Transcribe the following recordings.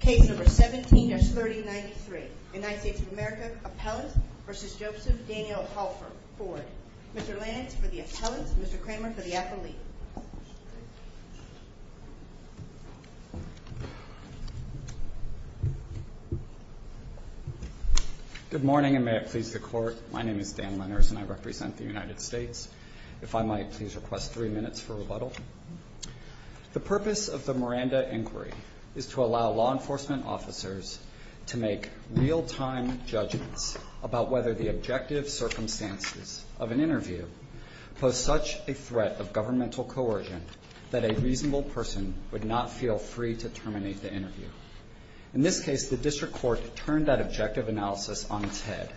Case number 17-3093, United States of America, appellants v. Joseph Daniel Hallford, forward. Mr. Lanitz for the appellants, Mr. Kramer for the athlete. Good morning and may it please the Court, my name is Dan Lenners and I represent the United States. If I might please request three minutes for rebuttal. The purpose of the Miranda inquiry is to allow law enforcement officers to make real-time judgments about whether the objective circumstances of an interview pose such a threat of governmental coercion that a reasonable person would not feel free to terminate the interview. In this case, the district court turned that objective analysis on its head,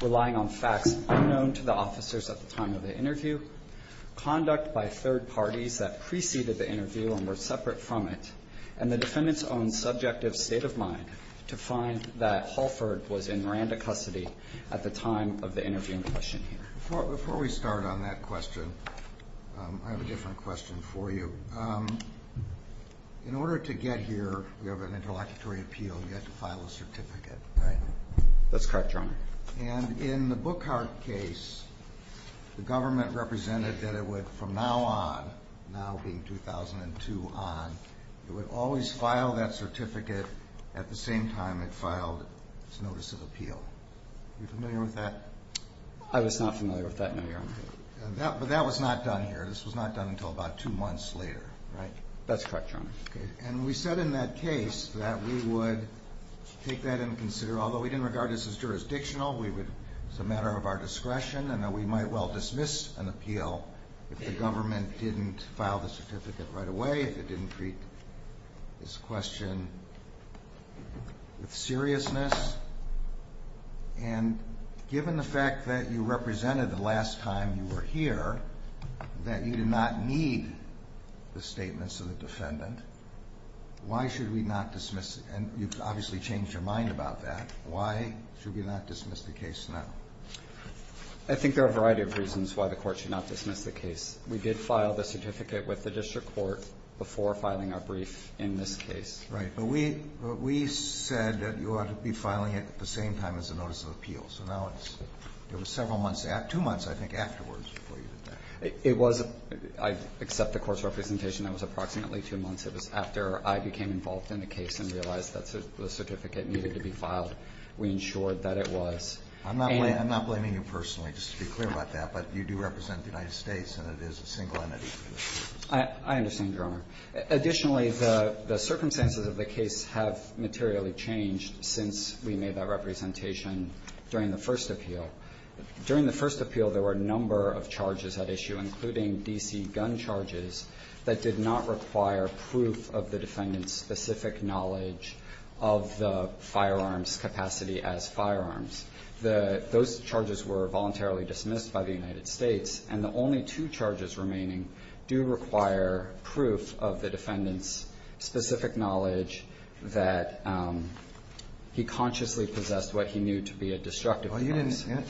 relying on facts unknown to the officers at the time of the interview, conduct by third parties that preceded the interview and were separate from it, and the defendant's own subjective state of mind to find that Hallford was in Miranda custody at the time of the interview in question here. Before we start on that question, I have a different question for you. In order to get here, we have an interlocutory appeal, you have to file a certificate, right? That's correct, Your Honor. And in the Bookhart case, the government represented that it would from now on, now being 2002 on, it would always file that certificate at the same time it filed its notice of appeal. Are you familiar with that? I was not familiar with that, no, Your Honor. But that was not done here. This was not done until about two months later. Right. That's correct, Your Honor. And we said in that case that we would take that into consideration, although we didn't regard this as jurisdictional, it was a matter of our discretion, and that we might well dismiss an appeal if the government didn't file the certificate right away, if it didn't treat this question with seriousness. And given the fact that you represented the last time you were here, that you did not need the statements of the defendant, why should we not dismiss it? And you've obviously changed your mind about that. Why should we not dismiss the case now? I think there are a variety of reasons why the Court should not dismiss the case. We did file the certificate with the district court before filing our brief in this case. Right. But we said that you ought to be filing it at the same time as the notice of appeal. So now it's several months, two months, I think, afterwards before you did that. It was, except the court's representation, that was approximately two months. It was after I became involved in the case and realized that the certificate needed to be filed. We ensured that it was. I'm not blaming you personally, just to be clear about that, but you do represent the United States and it is a single entity. I understand, Your Honor. Additionally, the circumstances of the case have materially changed since we made that representation during the first appeal. During the first appeal, there were a number of charges at issue, including D.C. gun charges, that did not require proof of the defendant's specific knowledge of the firearm's capacity as firearms. Those charges were voluntarily dismissed by the United States, and the only two charges remaining do require proof of the defendant's specific knowledge that he consciously possessed what he knew to be a destructive force. Well,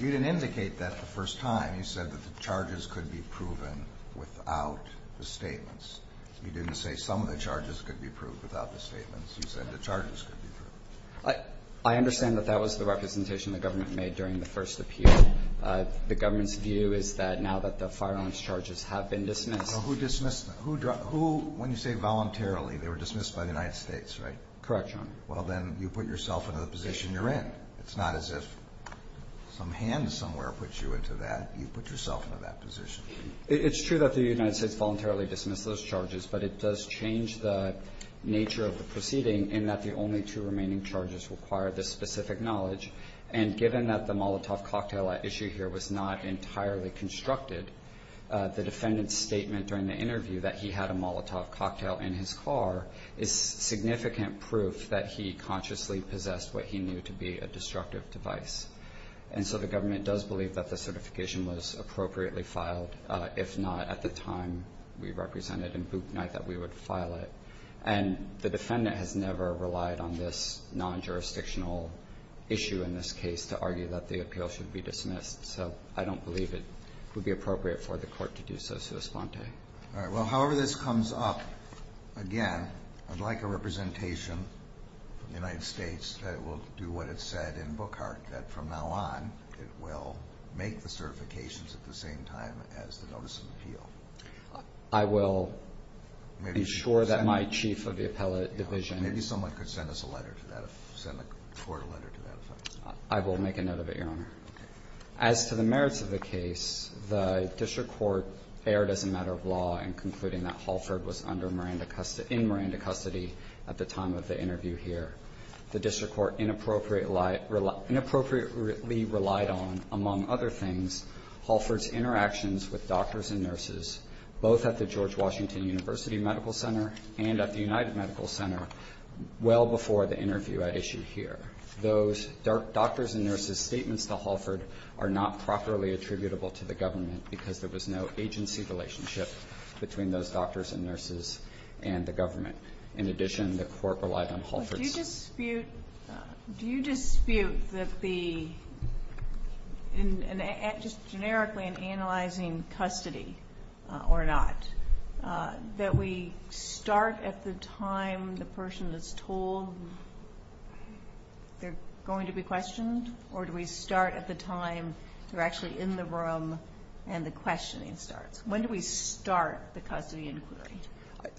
you didn't indicate that the first time. You said that the charges could be proven without the statements. You didn't say some of the charges could be proved without the statements. You said the charges could be proven. I understand that that was the representation the government made during the first appeal. The government's view is that now that the firearm's charges have been dismissed Who dismissed them? Who, when you say voluntarily, they were dismissed by the United States, right? Correct, Your Honor. Well, then you put yourself into the position you're in. It's not as if some hand somewhere puts you into that. You put yourself into that position. It's true that the United States voluntarily dismissed those charges, but it does change the nature of the proceeding in that the only two remaining charges require the specific knowledge, and given that the Molotov cocktail at issue here was not entirely constructed, the defendant's statement during the interview that he had a Molotov cocktail in his car is significant proof that he consciously possessed what he knew to be a destructive device. And so the government does believe that the certification was appropriately filed. If not, at the time we represented in Book Night, that we would file it. And the defendant has never relied on this non-jurisdictional issue in this case to argue that the appeal should be dismissed. So I don't believe it would be appropriate for the court to do so sui sponte. All right. Well, however this comes up, again, I'd like a representation from the United States that will do what it said in Bookhart, that from now on, it will make the certifications at the same time as the notice of appeal. I will ensure that my chief of the appellate division. Maybe someone could send us a letter to that. Send the court a letter to that. I will make a note of it, Your Honor. As to the merits of the case, the district court erred as a matter of law in concluding that Holford was under Miranda custody at the time of the interview here. The district court inappropriately relied on, among other things, Holford's interactions with doctors and nurses, both at the George Washington University Medical Center and at the United Medical Center well before the interview at issue here. Those doctors and nurses' statements to Holford are not properly attributable to the government because there was no agency relationship between those doctors and nurses and the government. In addition, the court relied on Holford's. Do you dispute that the, just generically, in analyzing custody or not, that we start at the time the person is told they're going to be questioned, or do we start at the time they're actually in the room and the questioning starts? When do we start the custody inquiry?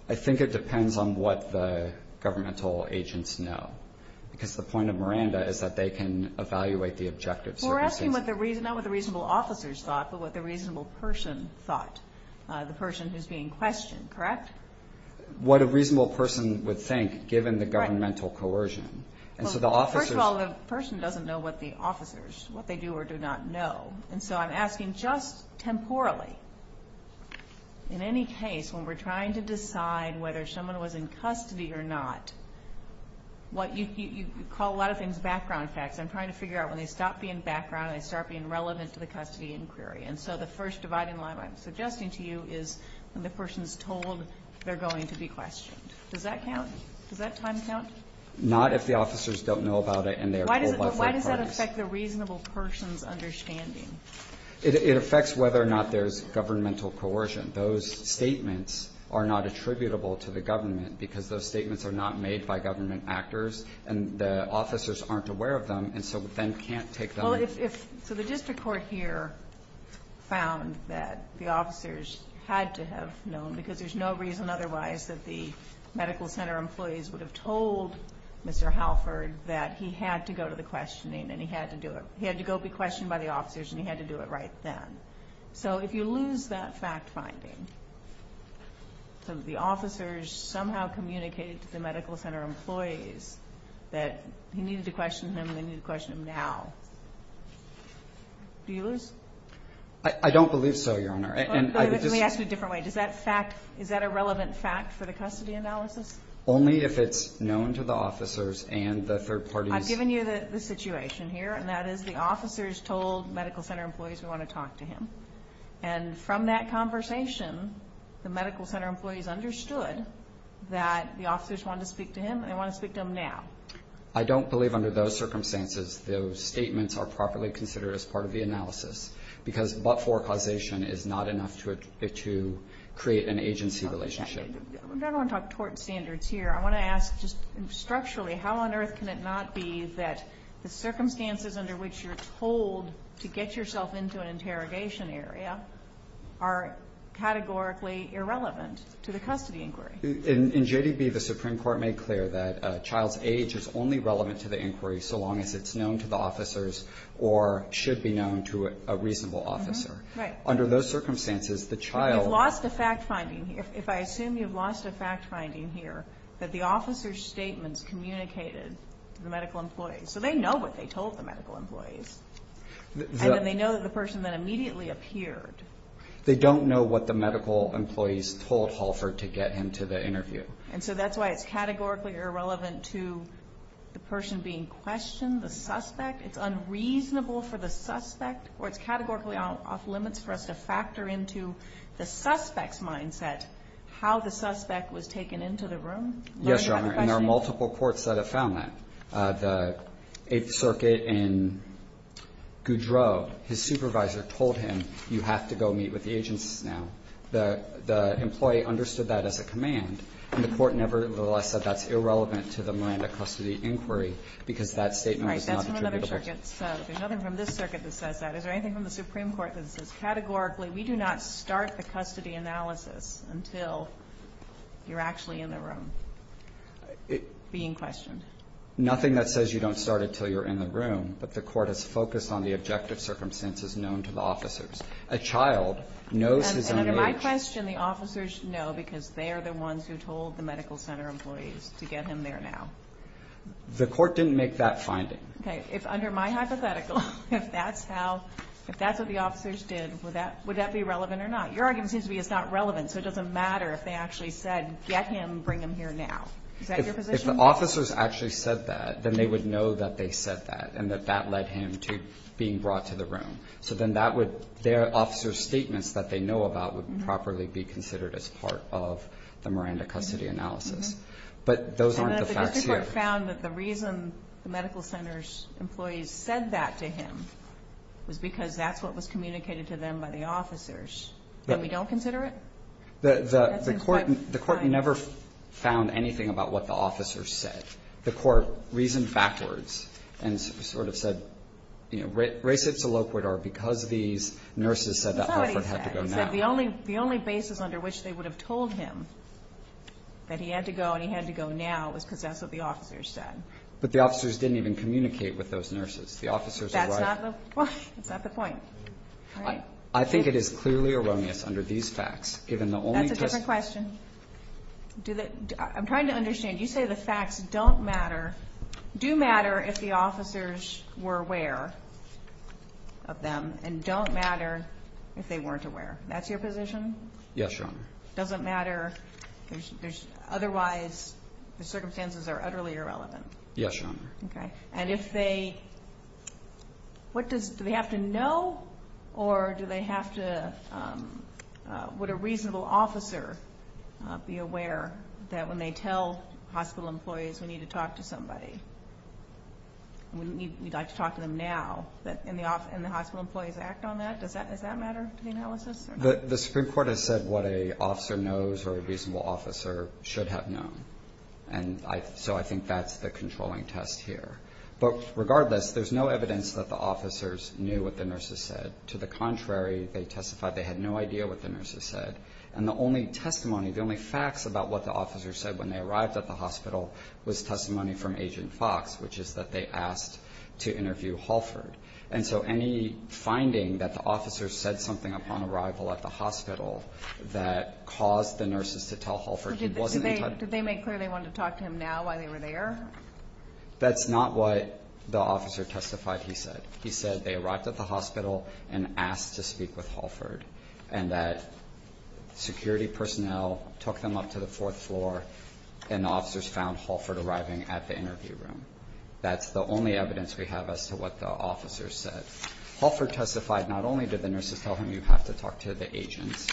I think it depends on what the governmental agents know, because the point of Miranda is that they can evaluate the objective services. We're asking not what the reasonable officers thought, but what the reasonable person thought, the person who's being questioned. Correct? What a reasonable person would think, given the governmental coercion. First of all, the person doesn't know what the officers, what they do or do not know. And so I'm asking just temporally, in any case, when we're trying to decide whether someone was in custody or not, you call a lot of things background facts. I'm trying to figure out when they stop being background and they start being relevant to the custody inquiry. And so the first dividing line I'm suggesting to you is when the person is told they're going to be questioned. Does that count? Does that time count? Not if the officers don't know about it and they are told by third parties. Why does that affect the reasonable person's understanding? It affects whether or not there's governmental coercion. Those statements are not attributable to the government, because those statements are not made by government actors and the officers aren't aware of them, and so then can't take them. So the district court here found that the officers had to have known, because there's no reason otherwise that the medical center employees would have told Mr. Halford that he had to go to the questioning and he had to do it. He had to go be questioned by the officers and he had to do it right then. So if you lose that fact finding, so the officers somehow communicated to the medical center employees that he needed to question him and they needed to question him now, do you lose? I don't believe so, Your Honor. Let me ask you a different way. Is that a relevant fact for the custody analysis? Only if it's known to the officers and the third parties. I've given you the situation here, and that is the officers told medical center employees we want to talk to him, and from that conversation the medical center employees understood that the officers wanted to speak to him and they want to speak to him now. I don't believe under those circumstances those statements are properly considered as part of the analysis, because but-for causation is not enough to create an agency relationship. I don't want to talk tort standards here. I want to ask just structurally how on earth can it not be that the circumstances under which you're told to get yourself into an interrogation area are categorically irrelevant to the custody inquiry? In J.D.B., the Supreme Court made clear that a child's age is only relevant to the inquiry so long as it's known to the officers or should be known to a reasonable officer. Right. Under those circumstances, the child... You've lost the fact finding. If I assume you've lost the fact finding here, that the officers' statements communicated to the medical employees, so they know what they told the medical employees, and then they know the person that immediately appeared. They don't know what the medical employees told Holford to get him to the interview. And so that's why it's categorically irrelevant to the person being questioned, the suspect. It's unreasonable for the suspect, or it's categorically off limits for us to factor into the suspect's mindset how the suspect was taken into the room? Yes, Your Honor, and there are multiple courts that have found that. The Eighth Circuit in Goudreau, his supervisor told him, you have to go meet with the agents now. The employee understood that as a command, and the court nevertheless said that's irrelevant to the Miranda custody inquiry because that statement was not attributable. Is there anything from the Supreme Court that says categorically we do not start the custody analysis until you're actually in the room being questioned? Nothing that says you don't start it until you're in the room, but the court has focused on the objective circumstances known to the officers. A child knows his own age. And under my question, the officers know because they're the ones who told the medical center employees to get him there now. The court didn't make that finding. Okay. If under my hypothetical, if that's how, if that's what the officers did, would that be relevant or not? Your argument seems to be it's not relevant, so it doesn't matter if they actually said get him, bring him here now. Is that your position? If the officers actually said that, then they would know that they said that and that that led him to being brought to the room. So then that would, their officers' statements that they know about would properly be considered as part of the Miranda custody analysis. But those aren't the facts here. The court found that the reason the medical center's employees said that to him was because that's what was communicated to them by the officers, and we don't consider it? The court never found anything about what the officers said. The court reasoned backwards and sort of said, you know, raise it to low court or because these nurses said that Hartford had to go now. That's not what he said. He said the only basis under which they would have told him that he had to go when he had to go now was because that's what the officers said. But the officers didn't even communicate with those nurses. The officers are right. That's not the point. I think it is clearly erroneous under these facts, given the only test. That's a different question. I'm trying to understand. You say the facts don't matter, do matter if the officers were aware of them and don't matter if they weren't aware. That's your position? Yes, Your Honor. It doesn't matter? Otherwise, the circumstances are utterly irrelevant? Yes, Your Honor. Okay. And if they – what does – do they have to know or do they have to – would a reasonable officer be aware that when they tell hospital employees we need to talk to somebody, we'd like to talk to them now, and the hospital employees act on that? Does that matter to the analysis or not? The Supreme Court has said what an officer knows or a reasonable officer should have known. And so I think that's the controlling test here. But regardless, there's no evidence that the officers knew what the nurses said. To the contrary, they testified they had no idea what the nurses said. And the only testimony, the only facts about what the officers said when they arrived at the hospital was testimony from Agent Fox, which is that they asked to interview Holford. And so any finding that the officers said something upon arrival at the hospital that caused the nurses to tell Holford he wasn't in time. Did they make clear they wanted to talk to him now while they were there? That's not what the officer testified he said. He said they arrived at the hospital and asked to speak with Holford and that security personnel took them up to the fourth floor and the officers found Holford arriving at the interview room. That's the only evidence we have as to what the officers said. Holford testified not only did the nurses tell him you have to talk to the agents.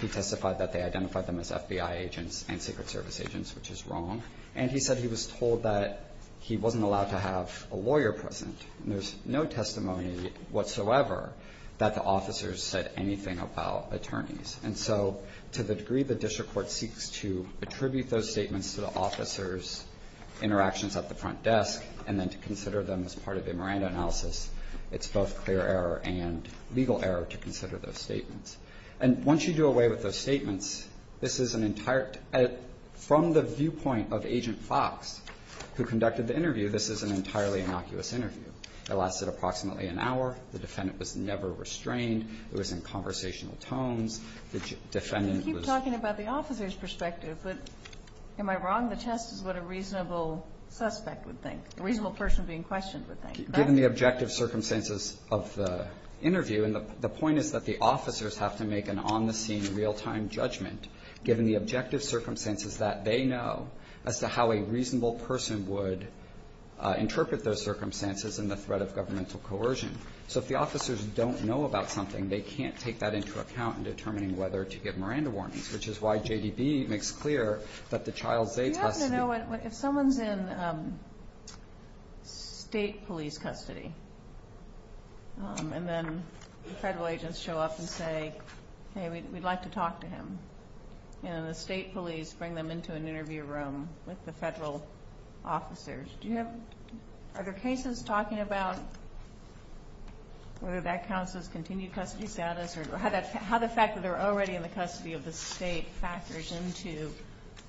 He testified that they identified them as FBI agents and Secret Service agents, which is wrong. And he said he was told that he wasn't allowed to have a lawyer present. And there's no testimony whatsoever that the officers said anything about attorneys. And so to the degree the district court seeks to attribute those statements to the officers' interactions at the front desk and then to consider them as part of the Miranda analysis, it's both clear error and legal error to consider those statements. And once you do away with those statements, this is an entire – from the viewpoint of Agent Fox, who conducted the interview, this is an entirely innocuous interview. It lasted approximately an hour. The defendant was never restrained. It was in conversational tones. The defendant was – I'm talking about the officer's perspective, but am I wrong? The test is what a reasonable suspect would think, a reasonable person being questioned would think. Given the objective circumstances of the interview, and the point is that the officers have to make an on-the-scene, real-time judgment, given the objective circumstances that they know, as to how a reasonable person would interpret those circumstances in the threat of governmental coercion. So if the officers don't know about something, they can't take that into account in determining whether to give Miranda warnings, which is why JDB makes clear that the child they tested— If someone's in state police custody, and then the federal agents show up and say, hey, we'd like to talk to him, and the state police bring them into an interview room with the federal officers, are there cases talking about whether that counts as continued custody status or how the fact that they're already in the custody of the state factors into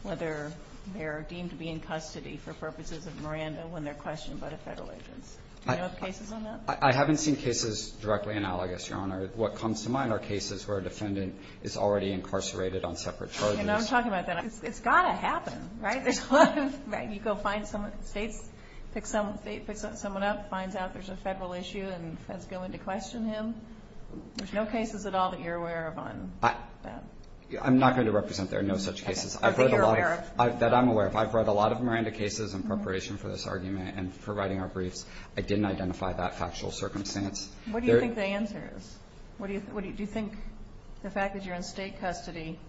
whether they're deemed to be in custody for purposes of Miranda when they're questioned by the federal agents? Do you know of cases on that? I haven't seen cases directly analogous, Your Honor. What comes to mind are cases where a defendant is already incarcerated on separate charges. And I'm talking about that. It's got to happen, right? You go find some states, pick someone up, finds out there's a federal issue and has to go in to question him. There's no cases at all that you're aware of on that? I'm not going to represent there are no such cases that I'm aware of. I've read a lot of Miranda cases in preparation for this argument and for writing our briefs. I didn't identify that factual circumstance. What do you think the answer is? Do you think the fact that you're in state custody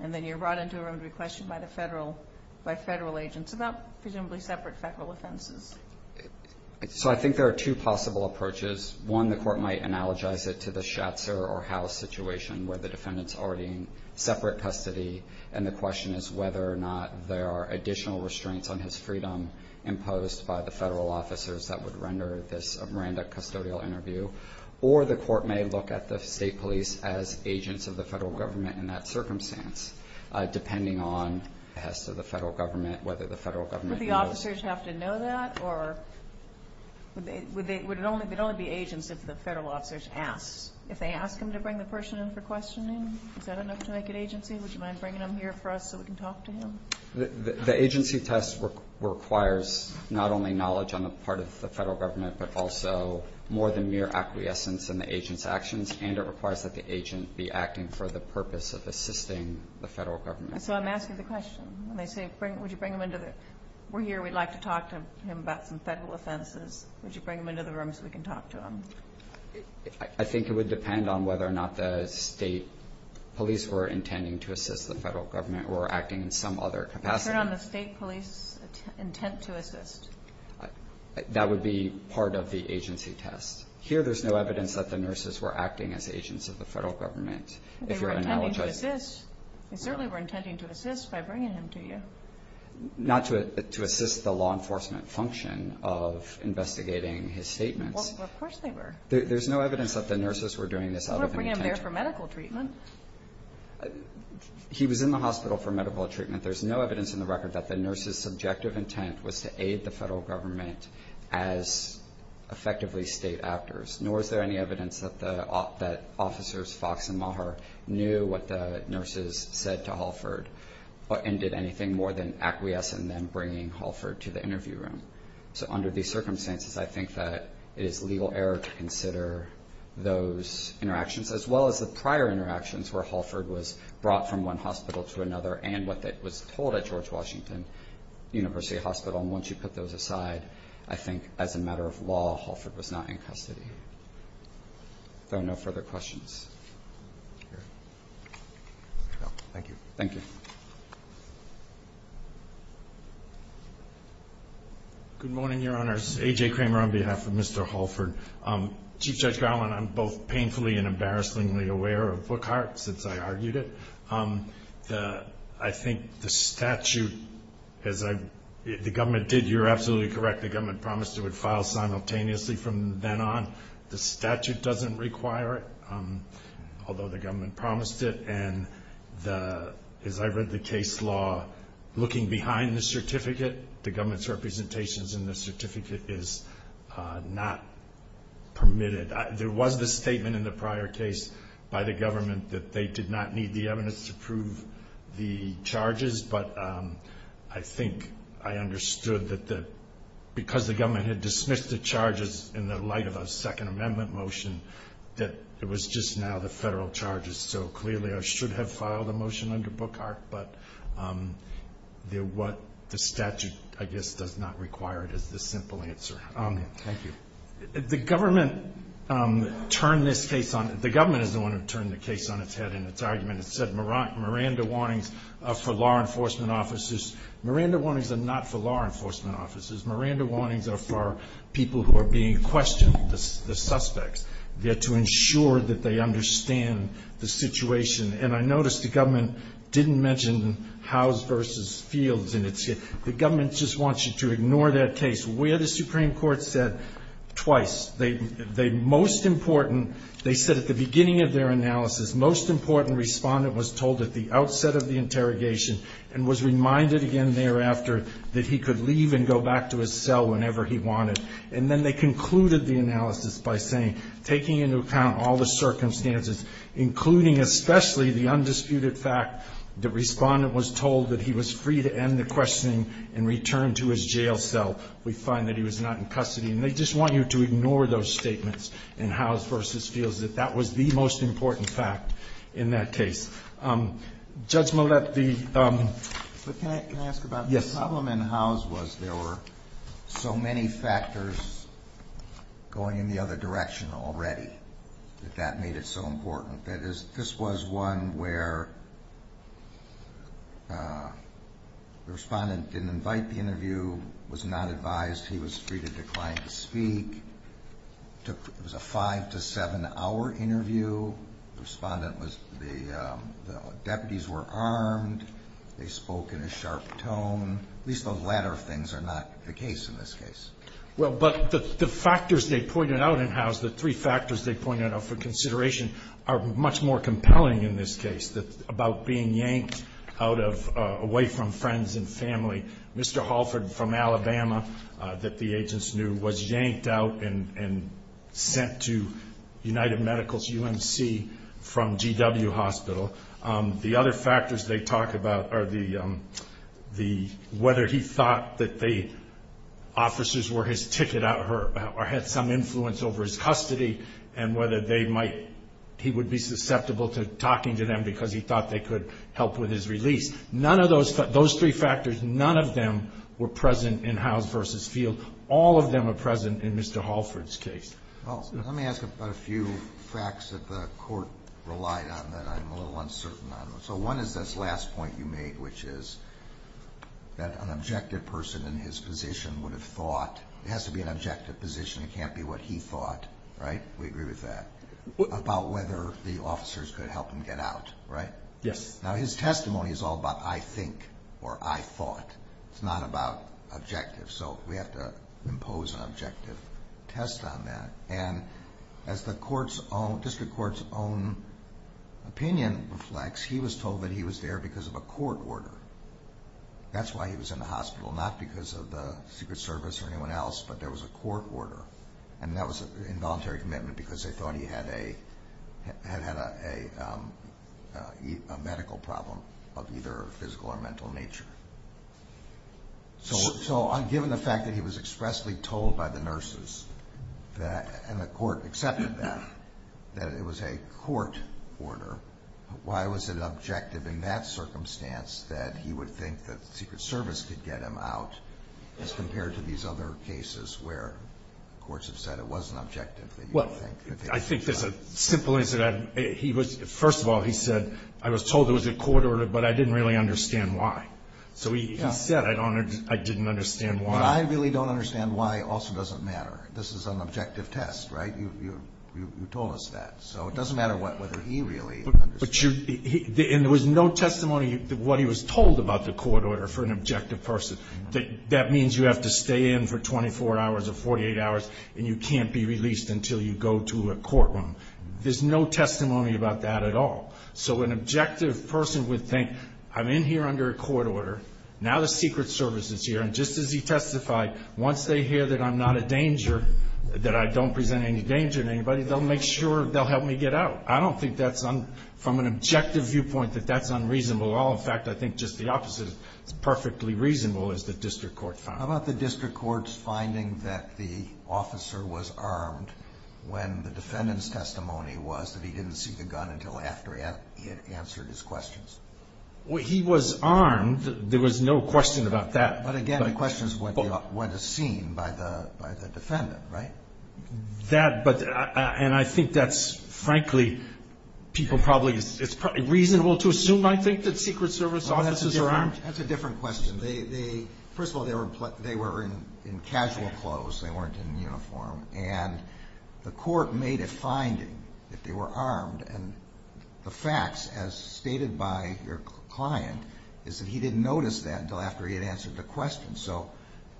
and then you're brought into a room to be questioned by federal agents about presumably separate federal offenses? So I think there are two possible approaches. One, the court might analogize it to the Schatzer or House situation where the defendant's already in separate custody, and the question is whether or not there are additional restraints on his freedom imposed by the federal officers that would render this a Miranda custodial interview. Or the court may look at the state police as agents of the federal government in that circumstance, depending on the test of the federal government, whether the federal government knows. Would the officers have to know that, or would it only be agents if the federal officers asked? If they asked him to bring the person in for questioning, is that enough to make it agency? Would you mind bringing him here for us so we can talk to him? The agency test requires not only knowledge on the part of the federal government, but also more than mere acquiescence in the agent's actions, and it requires that the agent be acting for the purpose of assisting the federal government. So I'm asking the question. When they say, would you bring him into the room? We're here, we'd like to talk to him about some federal offenses. Would you bring him into the room so we can talk to him? I think it would depend on whether or not the state police were intending to assist the federal government or were acting in some other capacity. Is there not a state police intent to assist? That would be part of the agency test. Here, there's no evidence that the nurses were acting as agents of the federal government. If you're analogizing. They were intending to assist. They certainly were intending to assist by bringing him to you. Not to assist the law enforcement function of investigating his statements. Well, of course they were. There's no evidence that the nurses were doing this out of intent. You wouldn't bring him there for medical treatment. He was in the hospital for medical treatment. There's no evidence in the record that the nurses' subjective intent was to aid the federal government as effectively state actors. Nor is there any evidence that officers Fox and Maher knew what the nurses said to Halford and did anything more than acquiesce in them bringing Halford to the interview room. So under these circumstances, I think that it is legal error to consider those interactions, as well as the prior interactions where Halford was brought from one hospital to another and what was told at George Washington University Hospital. And once you put those aside, I think as a matter of law, Halford was not in custody. If there are no further questions. Thank you. Thank you. Good morning, Your Honors. A.J. Kramer on behalf of Mr. Halford. Chief Judge Garland, I'm both painfully and embarrassingly aware of Bookhart since I argued it. I think the statute, as the government did, you're absolutely correct, the government promised it would file simultaneously from then on. The statute doesn't require it, although the government promised it. And as I read the case law, looking behind the certificate, the government's representations in the certificate is not permitted. There was the statement in the prior case by the government that they did not need the evidence to prove the charges, but I think I understood that because the government had dismissed the charges in the light of a Second Amendment motion, that it was just now the federal charges. So clearly I should have filed a motion under Bookhart, but what the statute, I guess, does not require it is the simple answer. Thank you. The government turned this case on. The government is the one who turned the case on its head in its argument. It said Miranda warnings are for law enforcement officers. Miranda warnings are not for law enforcement officers. Miranda warnings are for people who are being questioned, the suspects. They're to ensure that they understand the situation. And I noticed the government didn't mention Howes v. Fields in its case. The government just wants you to ignore that case. Where the Supreme Court said twice, the most important, they said at the beginning of their analysis, most important Respondent was told at the outset of the interrogation and was reminded again thereafter that he could leave and go back to his cell whenever he wanted. And then they concluded the analysis by saying, taking into account all the circumstances, including especially the undisputed fact that Respondent was told that he was free to end the questioning and return to his jail cell, we find that he was not in custody. And they just want you to ignore those statements in Howes v. Fields, that that was the most important fact in that case. Judge Mollett, the... But can I ask about... Yes. The problem in Howes was there were so many factors going in the other direction already that that made it so important. That is, this was one where the Respondent didn't invite the interview, was not advised he was free to decline to speak. It was a five- to seven-hour interview. The Respondent was... The deputies were armed. They spoke in a sharp tone. At least those latter things are not the case in this case. Well, but the factors they pointed out in Howes, the three factors they pointed out for consideration, are much more compelling in this case about being yanked out of... away from friends and family. Mr. Halford from Alabama, that the agents knew, was yanked out and sent to United Medical's UMC from GW Hospital. The other factors they talk about are the... whether he thought that the officers were his ticket out or had some influence over his custody and whether they might... he would be susceptible to talking to them because he thought they could help with his release. None of those three factors, none of them were present in Howes v. Field. All of them are present in Mr. Halford's case. Well, let me ask about a few facts that the Court relied on that I'm a little uncertain on. So one is this last point you made, which is that an objective person in his position would have thought... it has to be an objective position, it can't be what he thought, right? We agree with that. About whether the officers could help him get out, right? Yes. Now his testimony is all about I think or I thought. It's not about objectives. So we have to impose an objective test on that. And as the District Court's own opinion reflects, he was told that he was there because of a court order. That's why he was in the hospital, not because of the Secret Service or anyone else, but there was a court order. And that was an involuntary commitment because they thought he had a medical problem of either physical or mental nature. So given the fact that he was expressly told by the nurses and the Court accepted that, that it was a court order, why was it objective in that circumstance that he would think that the Secret Service could get him out as compared to these other cases where courts have said it wasn't objective? Well, I think there's a simple answer to that. First of all, he said, I was told there was a court order, but I didn't really understand why. So he said I didn't understand why. I really don't understand why also doesn't matter. This is an objective test, right? You told us that. So it doesn't matter whether he really understood. And there was no testimony of what he was told about the court order for an objective person. That means you have to stay in for 24 hours or 48 hours and you can't be released until you go to a courtroom. There's no testimony about that at all. So an objective person would think, I'm in here under a court order, now the Secret Service is here, and just as he testified, once they hear that I'm not a danger, that I don't present any danger to anybody, they'll make sure they'll help me get out. I don't think from an objective viewpoint that that's unreasonable at all. In fact, I think just the opposite is perfectly reasonable, as the district court found. How about the district court's finding that the officer was armed when the defendant's testimony was that he didn't see the gun until after he had answered his questions? He was armed. There was no question about that. But again, the question is what is seen by the defendant, right? And I think that's, frankly, people probably, it's probably reasonable to assume, I think, that Secret Service officers are armed. That's a different question. First of all, they were in casual clothes. They weren't in uniform. And the court made a finding that they were armed, and the facts, as stated by your client, is that he didn't notice that until after he had answered the questions. So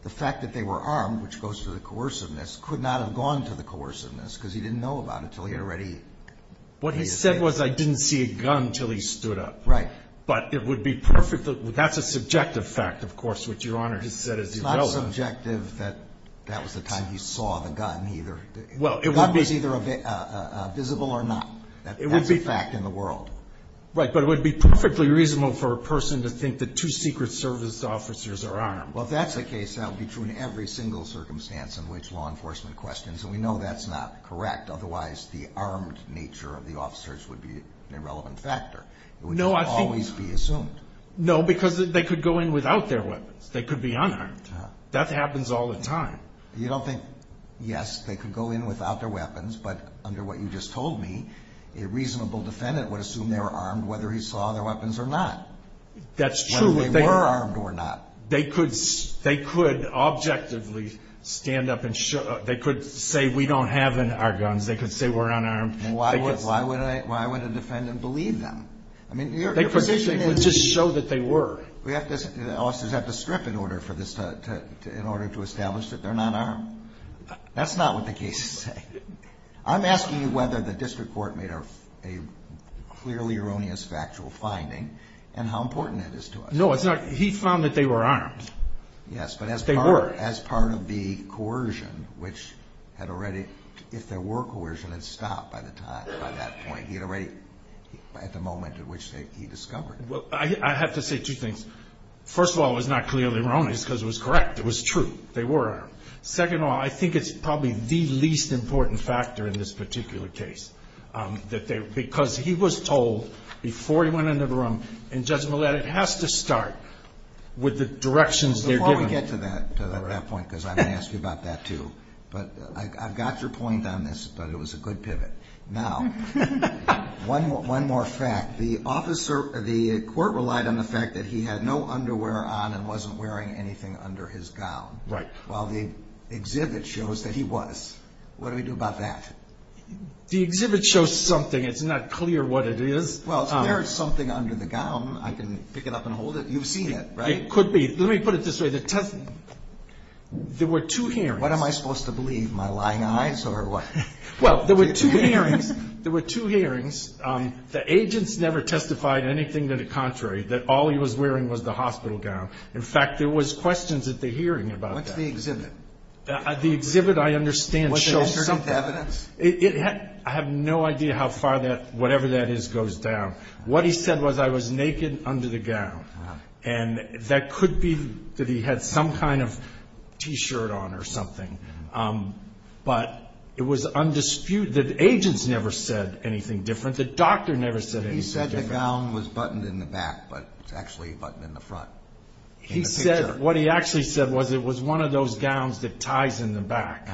the fact that they were armed, which goes to the coerciveness, could not have gone to the coerciveness, because he didn't know about it until he had already. What he said was I didn't see a gun until he stood up. Right. But it would be perfectly, that's a subjective fact, of course, which your Honor has said is irrelevant. It's not subjective that that was the time he saw the gun either. Well, it would be. The gun was either visible or not. That's a fact in the world. Right, but it would be perfectly reasonable for a person to think that two Secret Service officers are armed. Well, if that's the case, that would be true in every single circumstance in which law enforcement questions, and we know that's not correct. Otherwise, the armed nature of the officers would be an irrelevant factor. It would just always be assumed. No, because they could go in without their weapons. They could be unarmed. That happens all the time. You don't think, yes, they could go in without their weapons, but under what you just told me, a reasonable defendant would assume they were armed whether he saw their weapons or not. That's true. Whether they were armed or not. They could objectively stand up and show. They could say we don't have our guns. They could say we're unarmed. Why would a defendant believe them? I mean, your position is. They could just show that they were. Do the officers have to strip in order to establish that they're not armed? That's not what the cases say. I'm asking you whether the district court made a clearly erroneous factual finding and how important that is to us. No, it's not. He found that they were armed. Yes, but as part of the coercion, which had already, if there were coercion, it stopped by the time, by that point. He had already, at the moment at which he discovered it. Well, I have to say two things. First of all, it was not clearly erroneous because it was correct. It was true. They were armed. Second of all, I think it's probably the least important factor in this particular case. Because he was told before he went into the room, and Judge Millett, it has to start with the directions they're giving. Before we get to that point, because I'm going to ask you about that too, but I've got your point on this, but it was a good pivot. Now, one more fact. The court relied on the fact that he had no underwear on and wasn't wearing anything under his gown. Right. Well, the exhibit shows that he was. What do we do about that? The exhibit shows something. It's not clear what it is. Well, if there is something under the gown, I can pick it up and hold it. You've seen it, right? It could be. Let me put it this way. There were two hearings. What am I supposed to believe, my lying eyes or what? Well, there were two hearings. There were two hearings. The agents never testified anything to the contrary, that all he was wearing was the hospital gown. In fact, there was questions at the hearing about that. What's the exhibit? The exhibit, I understand, shows something. I have no idea how far that, whatever that is, goes down. What he said was, I was naked under the gown, and that could be that he had some kind of T-shirt on or something. But it was undisputed. The agents never said anything different. The doctor never said anything different. He said the gown was buttoned in the back, but it's actually buttoned in the front. He said what he actually said was it was one of those gowns that ties in the back.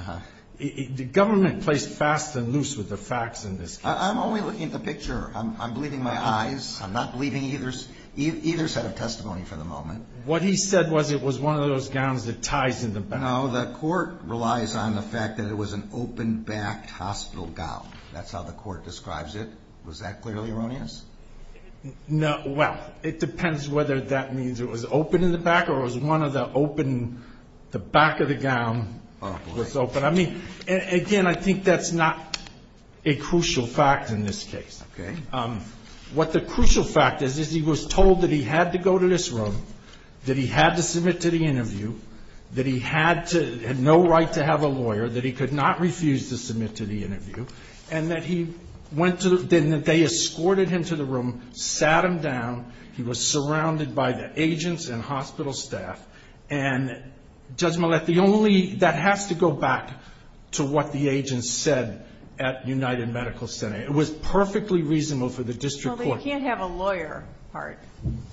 The government plays fast and loose with the facts in this case. I'm only looking at the picture. I'm believing my eyes. I'm not believing either set of testimony for the moment. What he said was it was one of those gowns that ties in the back. No, the court relies on the fact that it was an open-backed hospital gown. That's how the court describes it. Was that clearly erroneous? No. Well, it depends whether that means it was open in the back or it was one of the open, the back of the gown was open. I mean, again, I think that's not a crucial fact in this case. Okay. What the crucial fact is is he was told that he had to go to this room, that he had to submit to the interview, that he had no right to have a lawyer, that he could not refuse to submit to the interview, and that they escorted him to the room, sat him down. He was surrounded by the agents and hospital staff. And Judge Millett, that has to go back to what the agents said at United Medical Center. It was perfectly reasonable for the district court. Well, they can't have a lawyer, Hart.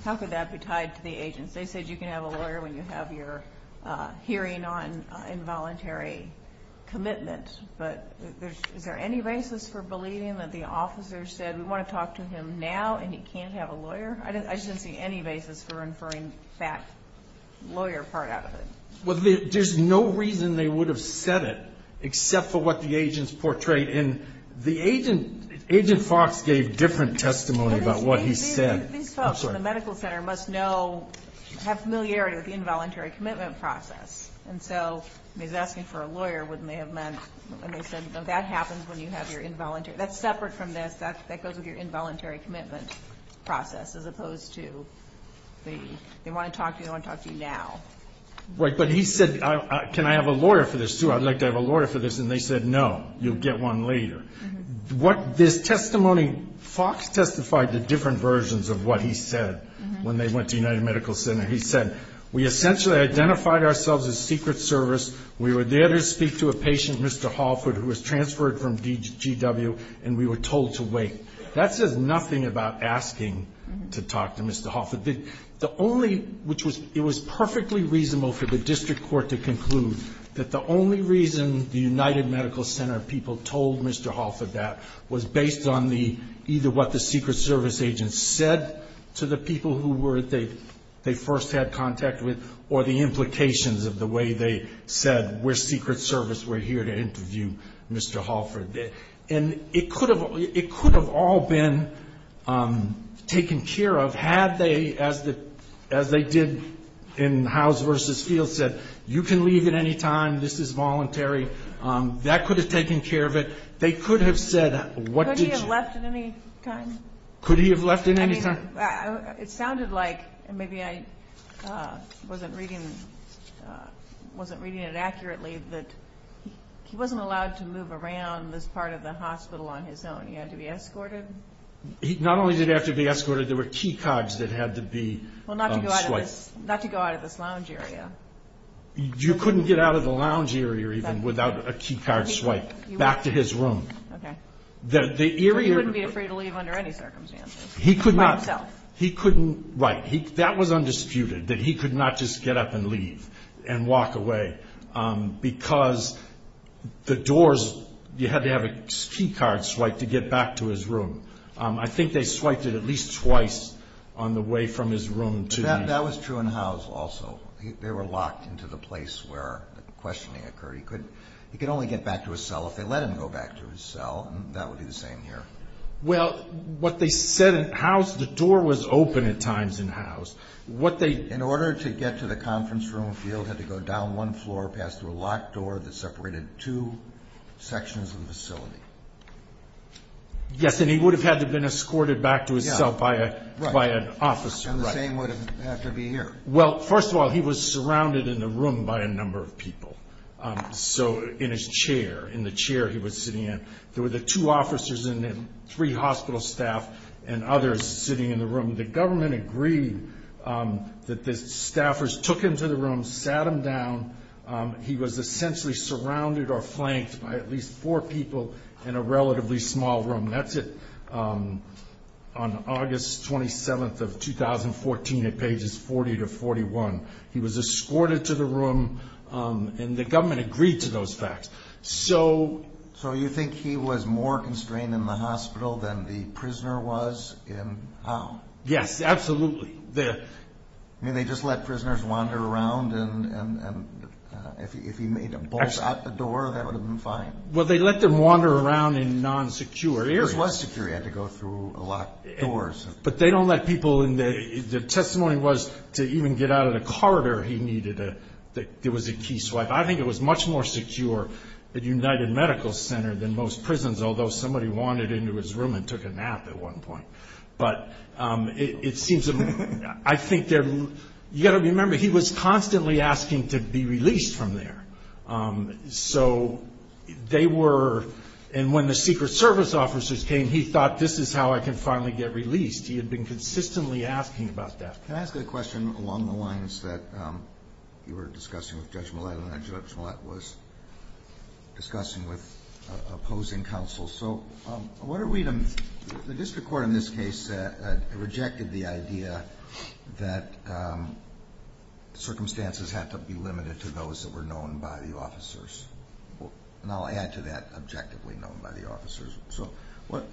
How could that be tied to the agents? They said you can have a lawyer when you have your hearing on involuntary commitment. But is there any basis for believing that the officers said, we want to talk to him now and he can't have a lawyer? I shouldn't see any basis for inferring that lawyer part out of it. Well, there's no reason they would have said it except for what the agents portrayed. And the agent, Agent Fox, gave different testimony about what he said. These folks in the medical center must know, have familiarity with the involuntary commitment process. And so he's asking for a lawyer, which may have meant that that happens when you have your involuntary. That's separate from this. That goes with your involuntary commitment process, as opposed to they want to talk to you, they want to talk to you now. Right. But he said, can I have a lawyer for this, too? I'd like to have a lawyer for this. And they said, no, you'll get one later. This testimony, Fox testified to different versions of what he said when they went to United Medical Center. He said, we essentially identified ourselves as Secret Service. We were there to speak to a patient, Mr. Halford, who was transferred from DGW. And we were told to wait. That says nothing about asking to talk to Mr. Halford. The only, which was, it was perfectly reasonable for the district court to conclude that the only reason the United Medical Center people told Mr. Halford that was based on the, either what the Secret Service agents said to the people who were, that they first had contact with, or the implications of the way they said, we're Secret Service, we're here to interview Mr. Halford. And it could have all been taken care of had they, as they did in Howes v. Field, said, you can leave at any time, this is voluntary. That could have taken care of it. They could have said, what did you? Could he have left at any time? Could he have left at any time? It sounded like, and maybe I wasn't reading it accurately, that he wasn't allowed to move around this part of the hospital on his own. He had to be escorted. Not only did he have to be escorted, there were key cards that had to be swiped. Well, not to go out of this lounge area. You couldn't get out of the lounge area even without a key card swipe. Back to his room. Okay. He wouldn't be afraid to leave under any circumstances. He couldn't. By himself. Right. That was undisputed, that he could not just get up and leave and walk away. Because the doors, you had to have a key card swipe to get back to his room. I think they swiped it at least twice on the way from his room to the- That was true in Howes also. They were locked into the place where the questioning occurred. He could only get back to his cell if they let him go back to his cell, and that would be the same here. Well, what they said in Howes, the door was open at times in Howes. In order to get to the conference room, Field had to go down one floor past a locked door that separated two sections of the facility. Yes, and he would have had to have been escorted back to his cell by an officer. Right. And the same would have to be here. Well, first of all, he was surrounded in the room by a number of people. In his chair, in the chair he was sitting in, there were the two officers in him, three hospital staff, and others sitting in the room. The government agreed that the staffers took him to the room, sat him down. He was essentially surrounded or flanked by at least four people in a relatively small room. That's on August 27th of 2014 at pages 40 to 41. He was escorted to the room, and the government agreed to those facts. So you think he was more constrained in the hospital than the prisoner was in Howe? Yes, absolutely. I mean, they just let prisoners wander around, and if he made a bolt out the door, that would have been fine. Well, they let them wander around in non-secure areas. It was secure. He had to go through a lot of doors. But they don't let people in. The testimony was to even get out of the corridor, there was a key swipe. I think it was much more secure at United Medical Center than most prisons, although somebody wandered into his room and took a nap at one point. But it seems to me, I think they're, you've got to remember, he was constantly asking to be released from there. So they were, and when the Secret Service officers came, he thought, this is how I can finally get released. He had been consistently asking about that. Can I ask a question along the lines that you were discussing with Judge Millett, and that Judge Millett was discussing with opposing counsel? So what are we to, the district court in this case rejected the idea that circumstances had to be limited to those that were known by the officers. And I'll add to that, objectively known by the officers.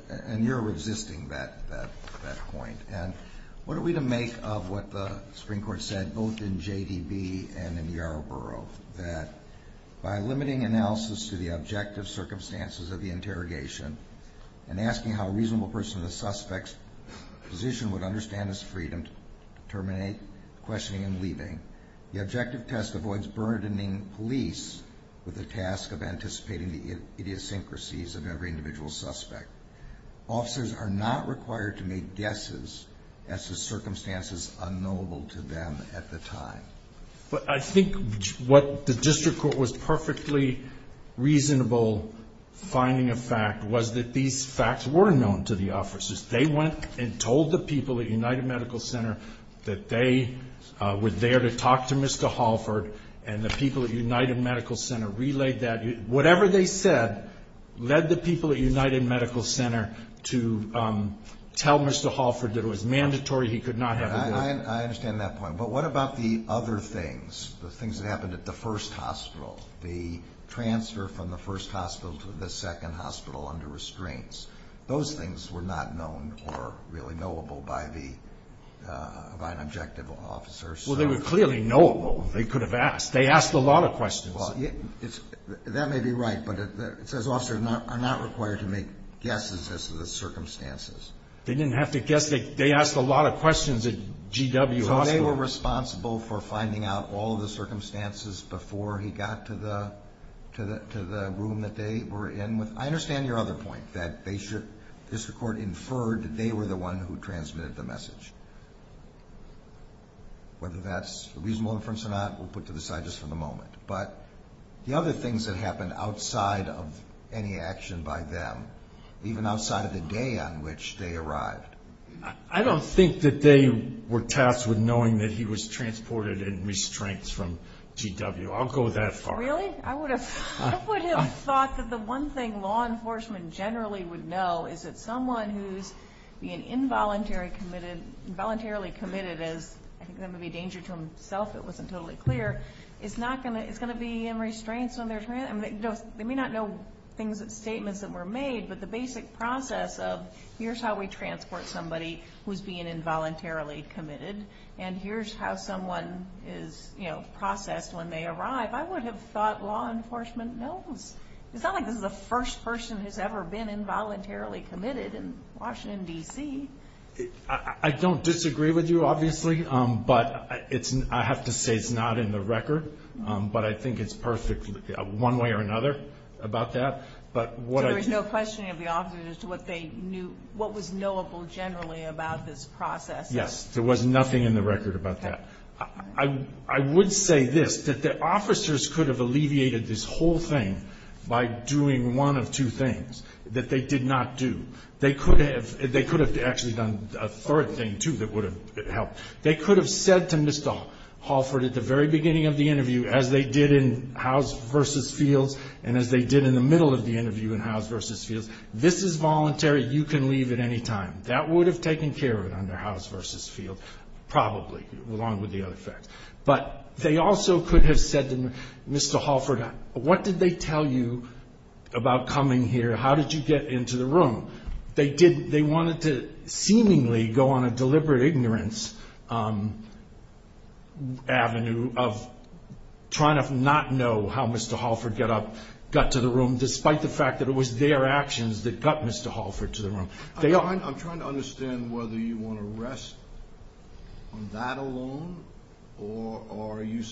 And you're resisting that point. And what are we to make of what the Supreme Court said, both in JDB and in Yarborough, that by limiting analysis to the objective circumstances of the interrogation, and asking how a reasonable person in the suspect's position would understand his freedom to terminate questioning and leaving, the objective test avoids burdening police with the task of anticipating the idiosyncrasies of every individual suspect. Officers are not required to make guesses as to circumstances unknowable to them at the time. But I think what the district court was perfectly reasonable finding of fact was that these facts were known to the officers. They went and told the people at United Medical Center that they were there to talk to Mr. Holford, and the people at United Medical Center relayed that. Whatever they said led the people at United Medical Center to tell Mr. Holford that it was mandatory. He could not have it. I understand that point. But what about the other things, the things that happened at the first hospital, the transfer from the first hospital to the second hospital under restraints? Those things were not known or really knowable by an objective officer. Well, they were clearly knowable. They could have asked. They asked a lot of questions. Well, that may be right, but it says officers are not required to make guesses as to the circumstances. They didn't have to guess. They asked a lot of questions at GW Hospital. So they were responsible for finding out all of the circumstances before he got to the room that they were in. I understand your other point that they should, district court inferred that they were the one who transmitted the message. Whether that's a reasonable inference or not, we'll put to the side just for the moment. But the other things that happened outside of any action by them, even outside of the day on which they arrived. I don't think that they were tasked with knowing that he was transported in restraints from GW. I'll go that far. Really? I would have thought that the one thing law enforcement generally would know is that someone who's being involuntarily committed, as I think that would be a danger to himself. It wasn't totally clear. It's going to be in restraints. They may not know statements that were made, but the basic process of, here's how we transport somebody who's being involuntarily committed, and here's how someone is processed when they arrive, I would have thought law enforcement knows. It's not like this is the first person who's ever been involuntarily committed in Washington, D.C. I don't disagree with you, obviously, but I have to say it's not in the record. But I think it's one way or another about that. So there was no questioning of the officers as to what was knowable generally about this process? Yes. There was nothing in the record about that. I would say this, that the officers could have alleviated this whole thing by doing one of two things that they did not do. They could have actually done a third thing, too, that would have helped. They could have said to Mr. Holford at the very beginning of the interview, as they did in House v. Fields and as they did in the middle of the interview in House v. Fields, this is voluntary, you can leave at any time. That would have taken care of it under House v. Fields, probably, along with the other facts. But they also could have said to Mr. Holford, what did they tell you about coming here? How did you get into the room? They wanted to seemingly go on a deliberate ignorance avenue of trying to not know how Mr. Holford got up, got to the room, despite the fact that it was their actions that got Mr. Holford to the room. I'm trying to understand whether you want to rest on that alone, or are you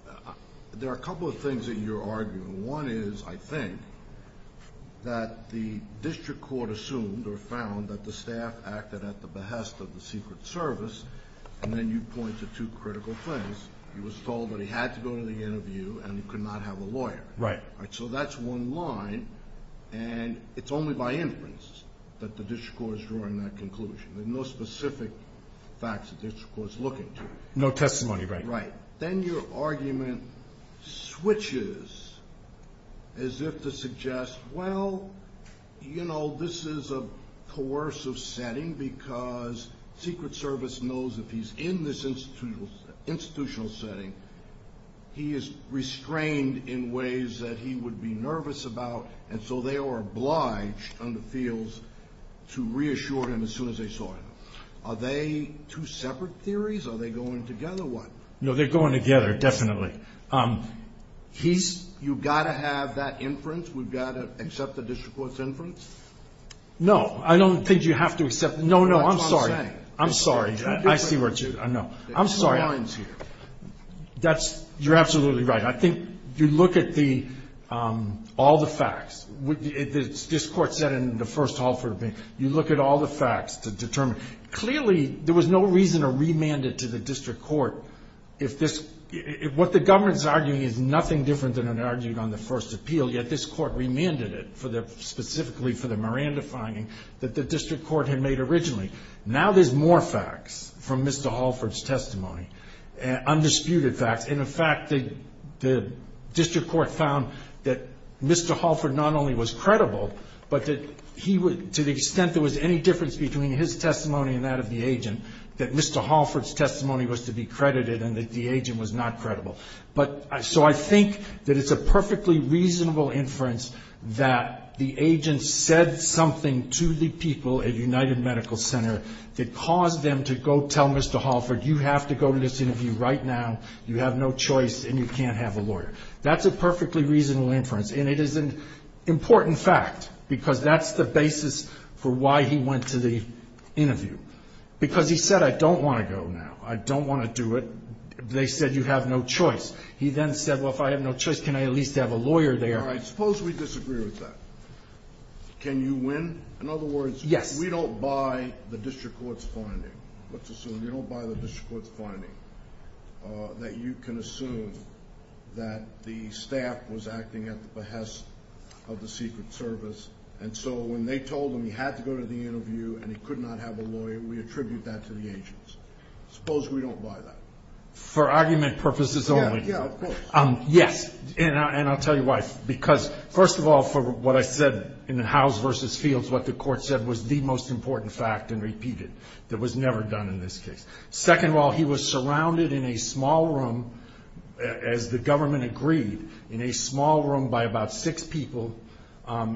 – there are a couple of things that you're arguing. One is, I think, that the district court assumed or found that the staff acted at the behest of the Secret Service, and then you point to two critical things. He was told that he had to go to the interview and he could not have a lawyer. Right. So that's one line, and it's only by inference that the district court is drawing that conclusion. There are no specific facts that the district court is looking to. No testimony, right. Right. Then your argument switches as if to suggest, well, you know, this is a coercive setting because Secret Service knows if he's in this institutional setting, he is restrained in ways that he would be nervous about, and so they are obliged on the fields to reassure him as soon as they saw him. Are they two separate theories? Are they going together, or what? No, they're going together, definitely. You've got to have that inference? We've got to accept the district court's inference? No. I don't think you have to accept it. No, no, I'm sorry. I'm sorry. I see where it's going. I'm sorry. There are two lines here. You're absolutely right. I think you look at all the facts. This Court said in the first Halford appeal, you look at all the facts to determine. Clearly, there was no reason to remand it to the district court. What the government is arguing is nothing different than it argued on the first appeal, yet this Court remanded it specifically for the Miranda finding that the district court had made originally. Now there's more facts from Mr. Halford's testimony, undisputed facts. In fact, the district court found that Mr. Halford not only was credible, but to the extent there was any difference between his testimony and that of the agent, that Mr. Halford's testimony was to be credited and that the agent was not credible. So I think that it's a perfectly reasonable inference that the agent said something to the people at United Medical Center that caused them to go tell Mr. Halford, you have to go to this interview right now. You have no choice, and you can't have a lawyer. That's a perfectly reasonable inference, and it is an important fact, because that's the basis for why he went to the interview, because he said, I don't want to go now. I don't want to do it. They said you have no choice. He then said, well, if I have no choice, can I at least have a lawyer there? All right, suppose we disagree with that. Can you win? In other words, we don't buy the district court's finding. Let's assume you don't buy the district court's finding, that you can assume that the staff was acting at the behest of the Secret Service, and so when they told him he had to go to the interview and he could not have a lawyer, we attribute that to the agents. Suppose we don't buy that. For argument purposes only. Yeah, of course. Yes, and I'll tell you why. Because, first of all, for what I said in the Howes v. Fields, what the court said was the most important fact, and repeated, that was never done in this case. Second of all, he was surrounded in a small room, as the government agreed, in a small room by about six people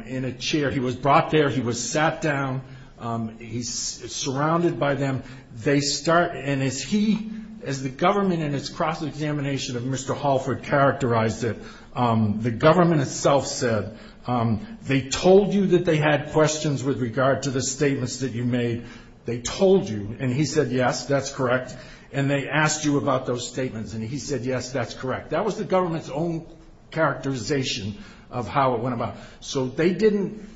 in a chair. He was brought there. He was sat down. He's surrounded by them. They start, and as he, as the government in its cross-examination of Mr. Halford characterized it, the government itself said, they told you that they had questions with regard to the statements that you made. They told you, and he said, yes, that's correct. And they asked you about those statements, and he said, yes, that's correct. That was the government's own characterization of how it went about. So they didn't,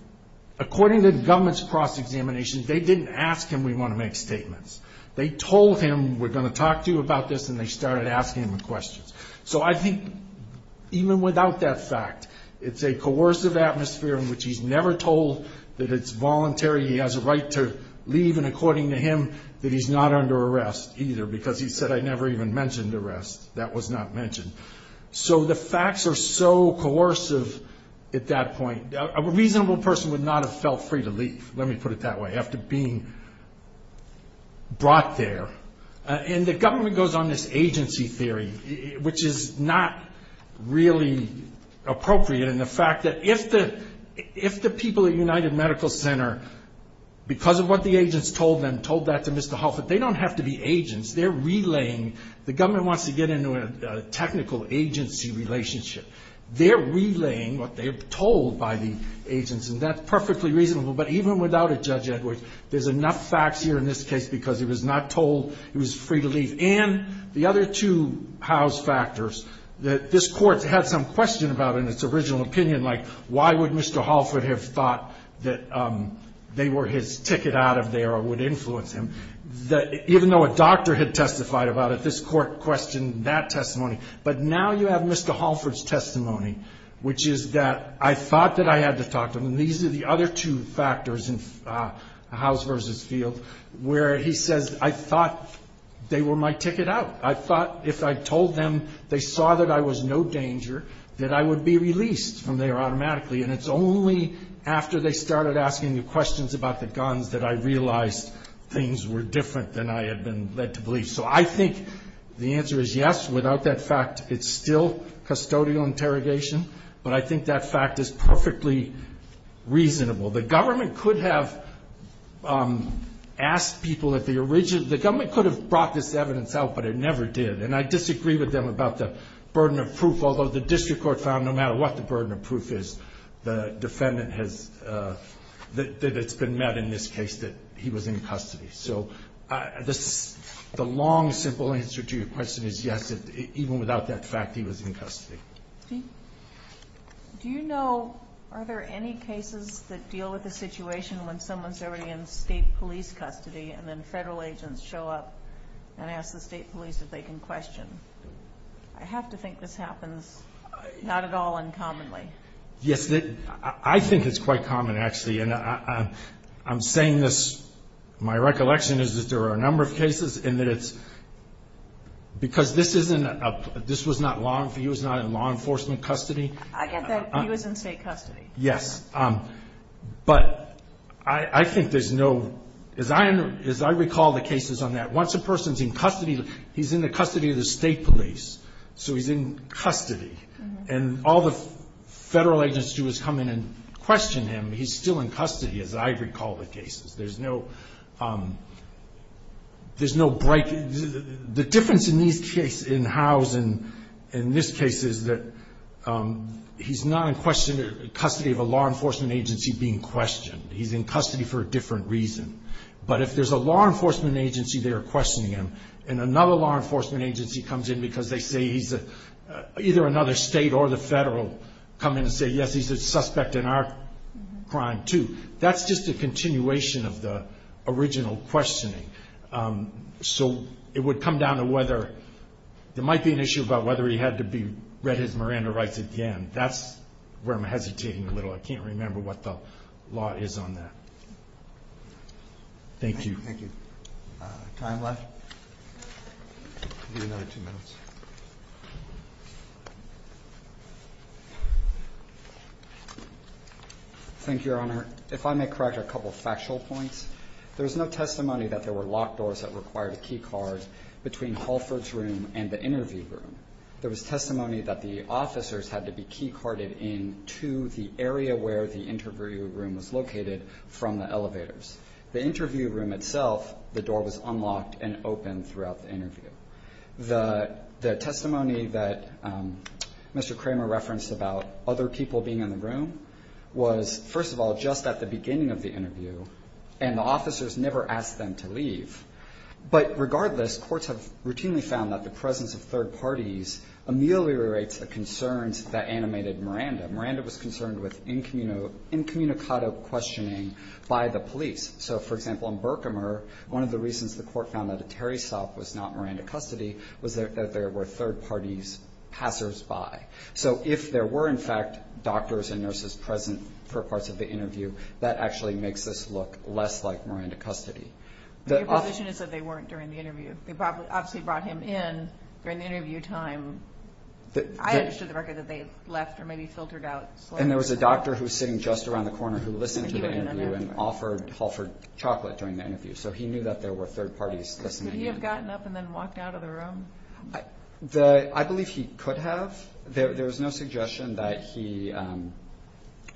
according to the government's cross-examination, they didn't ask him, we want to make statements. They told him, we're going to talk to you about this, and they started asking him questions. So I think, even without that fact, it's a coercive atmosphere in which he's never told that it's voluntary, he has a right to leave, and according to him, that he's not under arrest either, because he said, I never even mentioned arrest. That was not mentioned. So the facts are so coercive at that point. A reasonable person would not have felt free to leave, let me put it that way, after being brought there. And the government goes on this agency theory, which is not really appropriate, and the fact that if the people at United Medical Center, because of what the agents told them, told that to Mr. Halford, they don't have to be agents. They're relaying, the government wants to get into a technical agency relationship. They're relaying what they're told by the agents, and that's perfectly reasonable, but even without a Judge Edwards, there's enough facts here in this case because he was not told he was free to leave. And the other two house factors that this Court had some question about in its original opinion, like why would Mr. Halford have thought that they were his ticket out of there or would influence him, even though a doctor had testified about it, this Court questioned that testimony. But now you have Mr. Halford's testimony, which is that I thought that I had to talk to him. And these are the other two factors in House v. Field, where he says, I thought they were my ticket out. I thought if I told them they saw that I was no danger, that I would be released from there automatically. And it's only after they started asking me questions about the guns that I realized things were different than I had been led to believe. So I think the answer is yes. Without that fact, it's still custodial interrogation, but I think that fact is perfectly reasonable. The government could have asked people at the original, the government could have brought this evidence out, but it never did. And I disagree with them about the burden of proof, although the district court found no matter what the burden of proof is, the defendant has, that it's been met in this case that he was in custody. So the long, simple answer to your question is yes, even without that fact, he was in custody. Do you know, are there any cases that deal with the situation when someone's already in state police custody and then federal agents show up and ask the state police if they can question? I have to think this happens not at all uncommonly. Yes, I think it's quite common, actually. And I'm saying this, my recollection is that there are a number of cases, and that it's because this was not in law enforcement custody. I get that. He was in state custody. Yes. But I think there's no, as I recall the cases on that, once a person's in custody, he's in the custody of the state police, so he's in custody. And all the federal agents do is come in and question him. He's still in custody, as I recall the cases. There's no break. The difference in these cases, in Howe's and in this case, is that he's not in custody of a law enforcement agency being questioned. He's in custody for a different reason. But if there's a law enforcement agency there questioning him and another law enforcement agency comes in because they say he's either another state or the federal come in and say, yes, he's a suspect in our crime too, that's just a continuation of the original questioning. So it would come down to whether there might be an issue about whether he had to be read his Miranda rights again. That's where I'm hesitating a little. I can't remember what the law is on that. Thank you. Thank you. Time left. Give you another two minutes. Thank you, Your Honor. If I may correct a couple of factual points, there's no testimony that there were locked doors that required a key card between Halford's room and the interview room. There was testimony that the officers had to be key carded in to the area where the interview room was located from the elevators. The interview room itself, the door was unlocked and open throughout the interview. The testimony that Mr. Kramer referenced about other people being in the room was, first of all, just at the beginning of the interview, and the officers never asked them to leave. But regardless, courts have routinely found that the presence of third parties ameliorates the concerns that animated Miranda. Miranda was concerned with incommunicado questioning by the police. So, for example, in Berkimer, one of the reasons the court found that a Terry stop was not Miranda custody was that there were third parties passersby. So if there were, in fact, doctors and nurses present for parts of the interview, that actually makes this look less like Miranda custody. Your position is that they weren't during the interview. They obviously brought him in during the interview time. I understood the record that they left or maybe filtered out. And there was a doctor who was sitting just around the corner who listened to the interview and offered Halford chocolate during the interview. So he knew that there were third parties listening in. Could he have gotten up and then walked out of the room? I believe he could have. There was no suggestion that he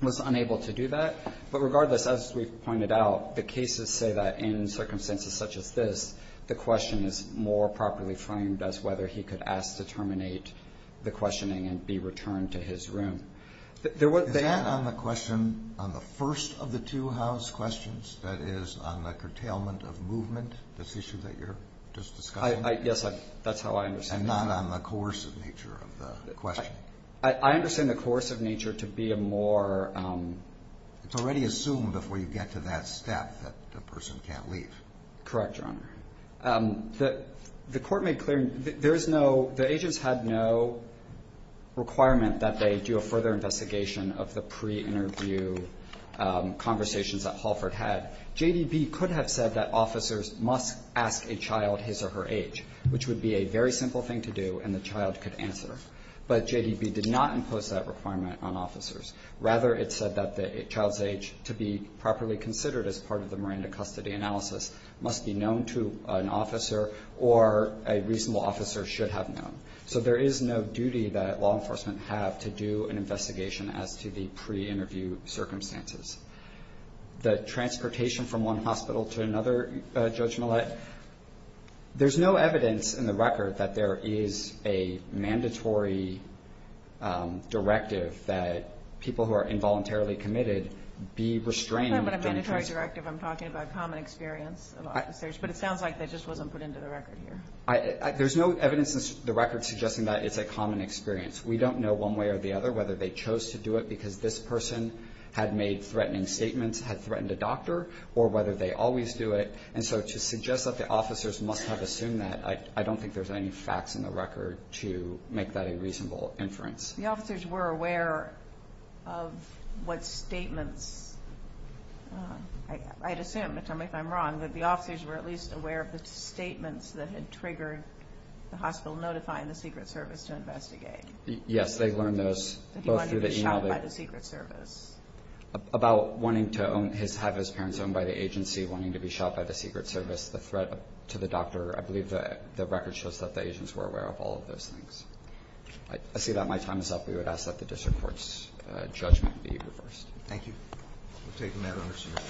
was unable to do that. But regardless, as we've pointed out, the cases say that in circumstances such as this, the question is more properly framed as whether he could ask to terminate the questioning and be returned to his room. Is that on the question on the first of the two house questions that is on the curtailment of movement, this issue that you're just discussing? Yes, that's how I understand it. And not on the coercive nature of the question. I understand the course of nature to be a more. It's already assumed before you get to that step that the person can't leave. Correct. The court made clear there is no the agents had no requirement that they do a further investigation of the pre interview conversations that Halford had. J.D.B. could have said that officers must ask a child his or her age, which would be a very simple thing to do. And the child could answer. But J.D.B. did not impose that requirement on officers. Rather, it said that the child's age to be properly considered as part of the Miranda custody analysis must be known to an officer or a reasonable officer should have known. So there is no duty that law enforcement have to do an investigation as to the pre interview circumstances. The transportation from one hospital to another, Judge Millett. There's no evidence in the record that there is a mandatory directive that people who are involuntarily committed be restrained. I'm not talking about a mandatory directive. I'm talking about common experience. But it sounds like that just wasn't put into the record here. There's no evidence in the record suggesting that it's a common experience. We don't know one way or the other whether they chose to do it because this person had made threatening statements, had threatened a doctor, or whether they always do it. And so to suggest that the officers must have assumed that, I don't think there's any facts in the record to make that a reasonable inference. The officers were aware of what statements. I'd assume, tell me if I'm wrong, that the officers were at least aware of the statements that had triggered the hospital notifying the Secret Service to investigate. Yes, they learned those. That he wanted to be shot by the Secret Service. About wanting to have his parents owned by the agency, wanting to be shot by the Secret Service, the threat to the doctor. I believe the record shows that the agents were aware of all of those things. I see that my time is up. We would ask that the district court's judgment be reversed. Thank you. We'll take the matter under scrutiny.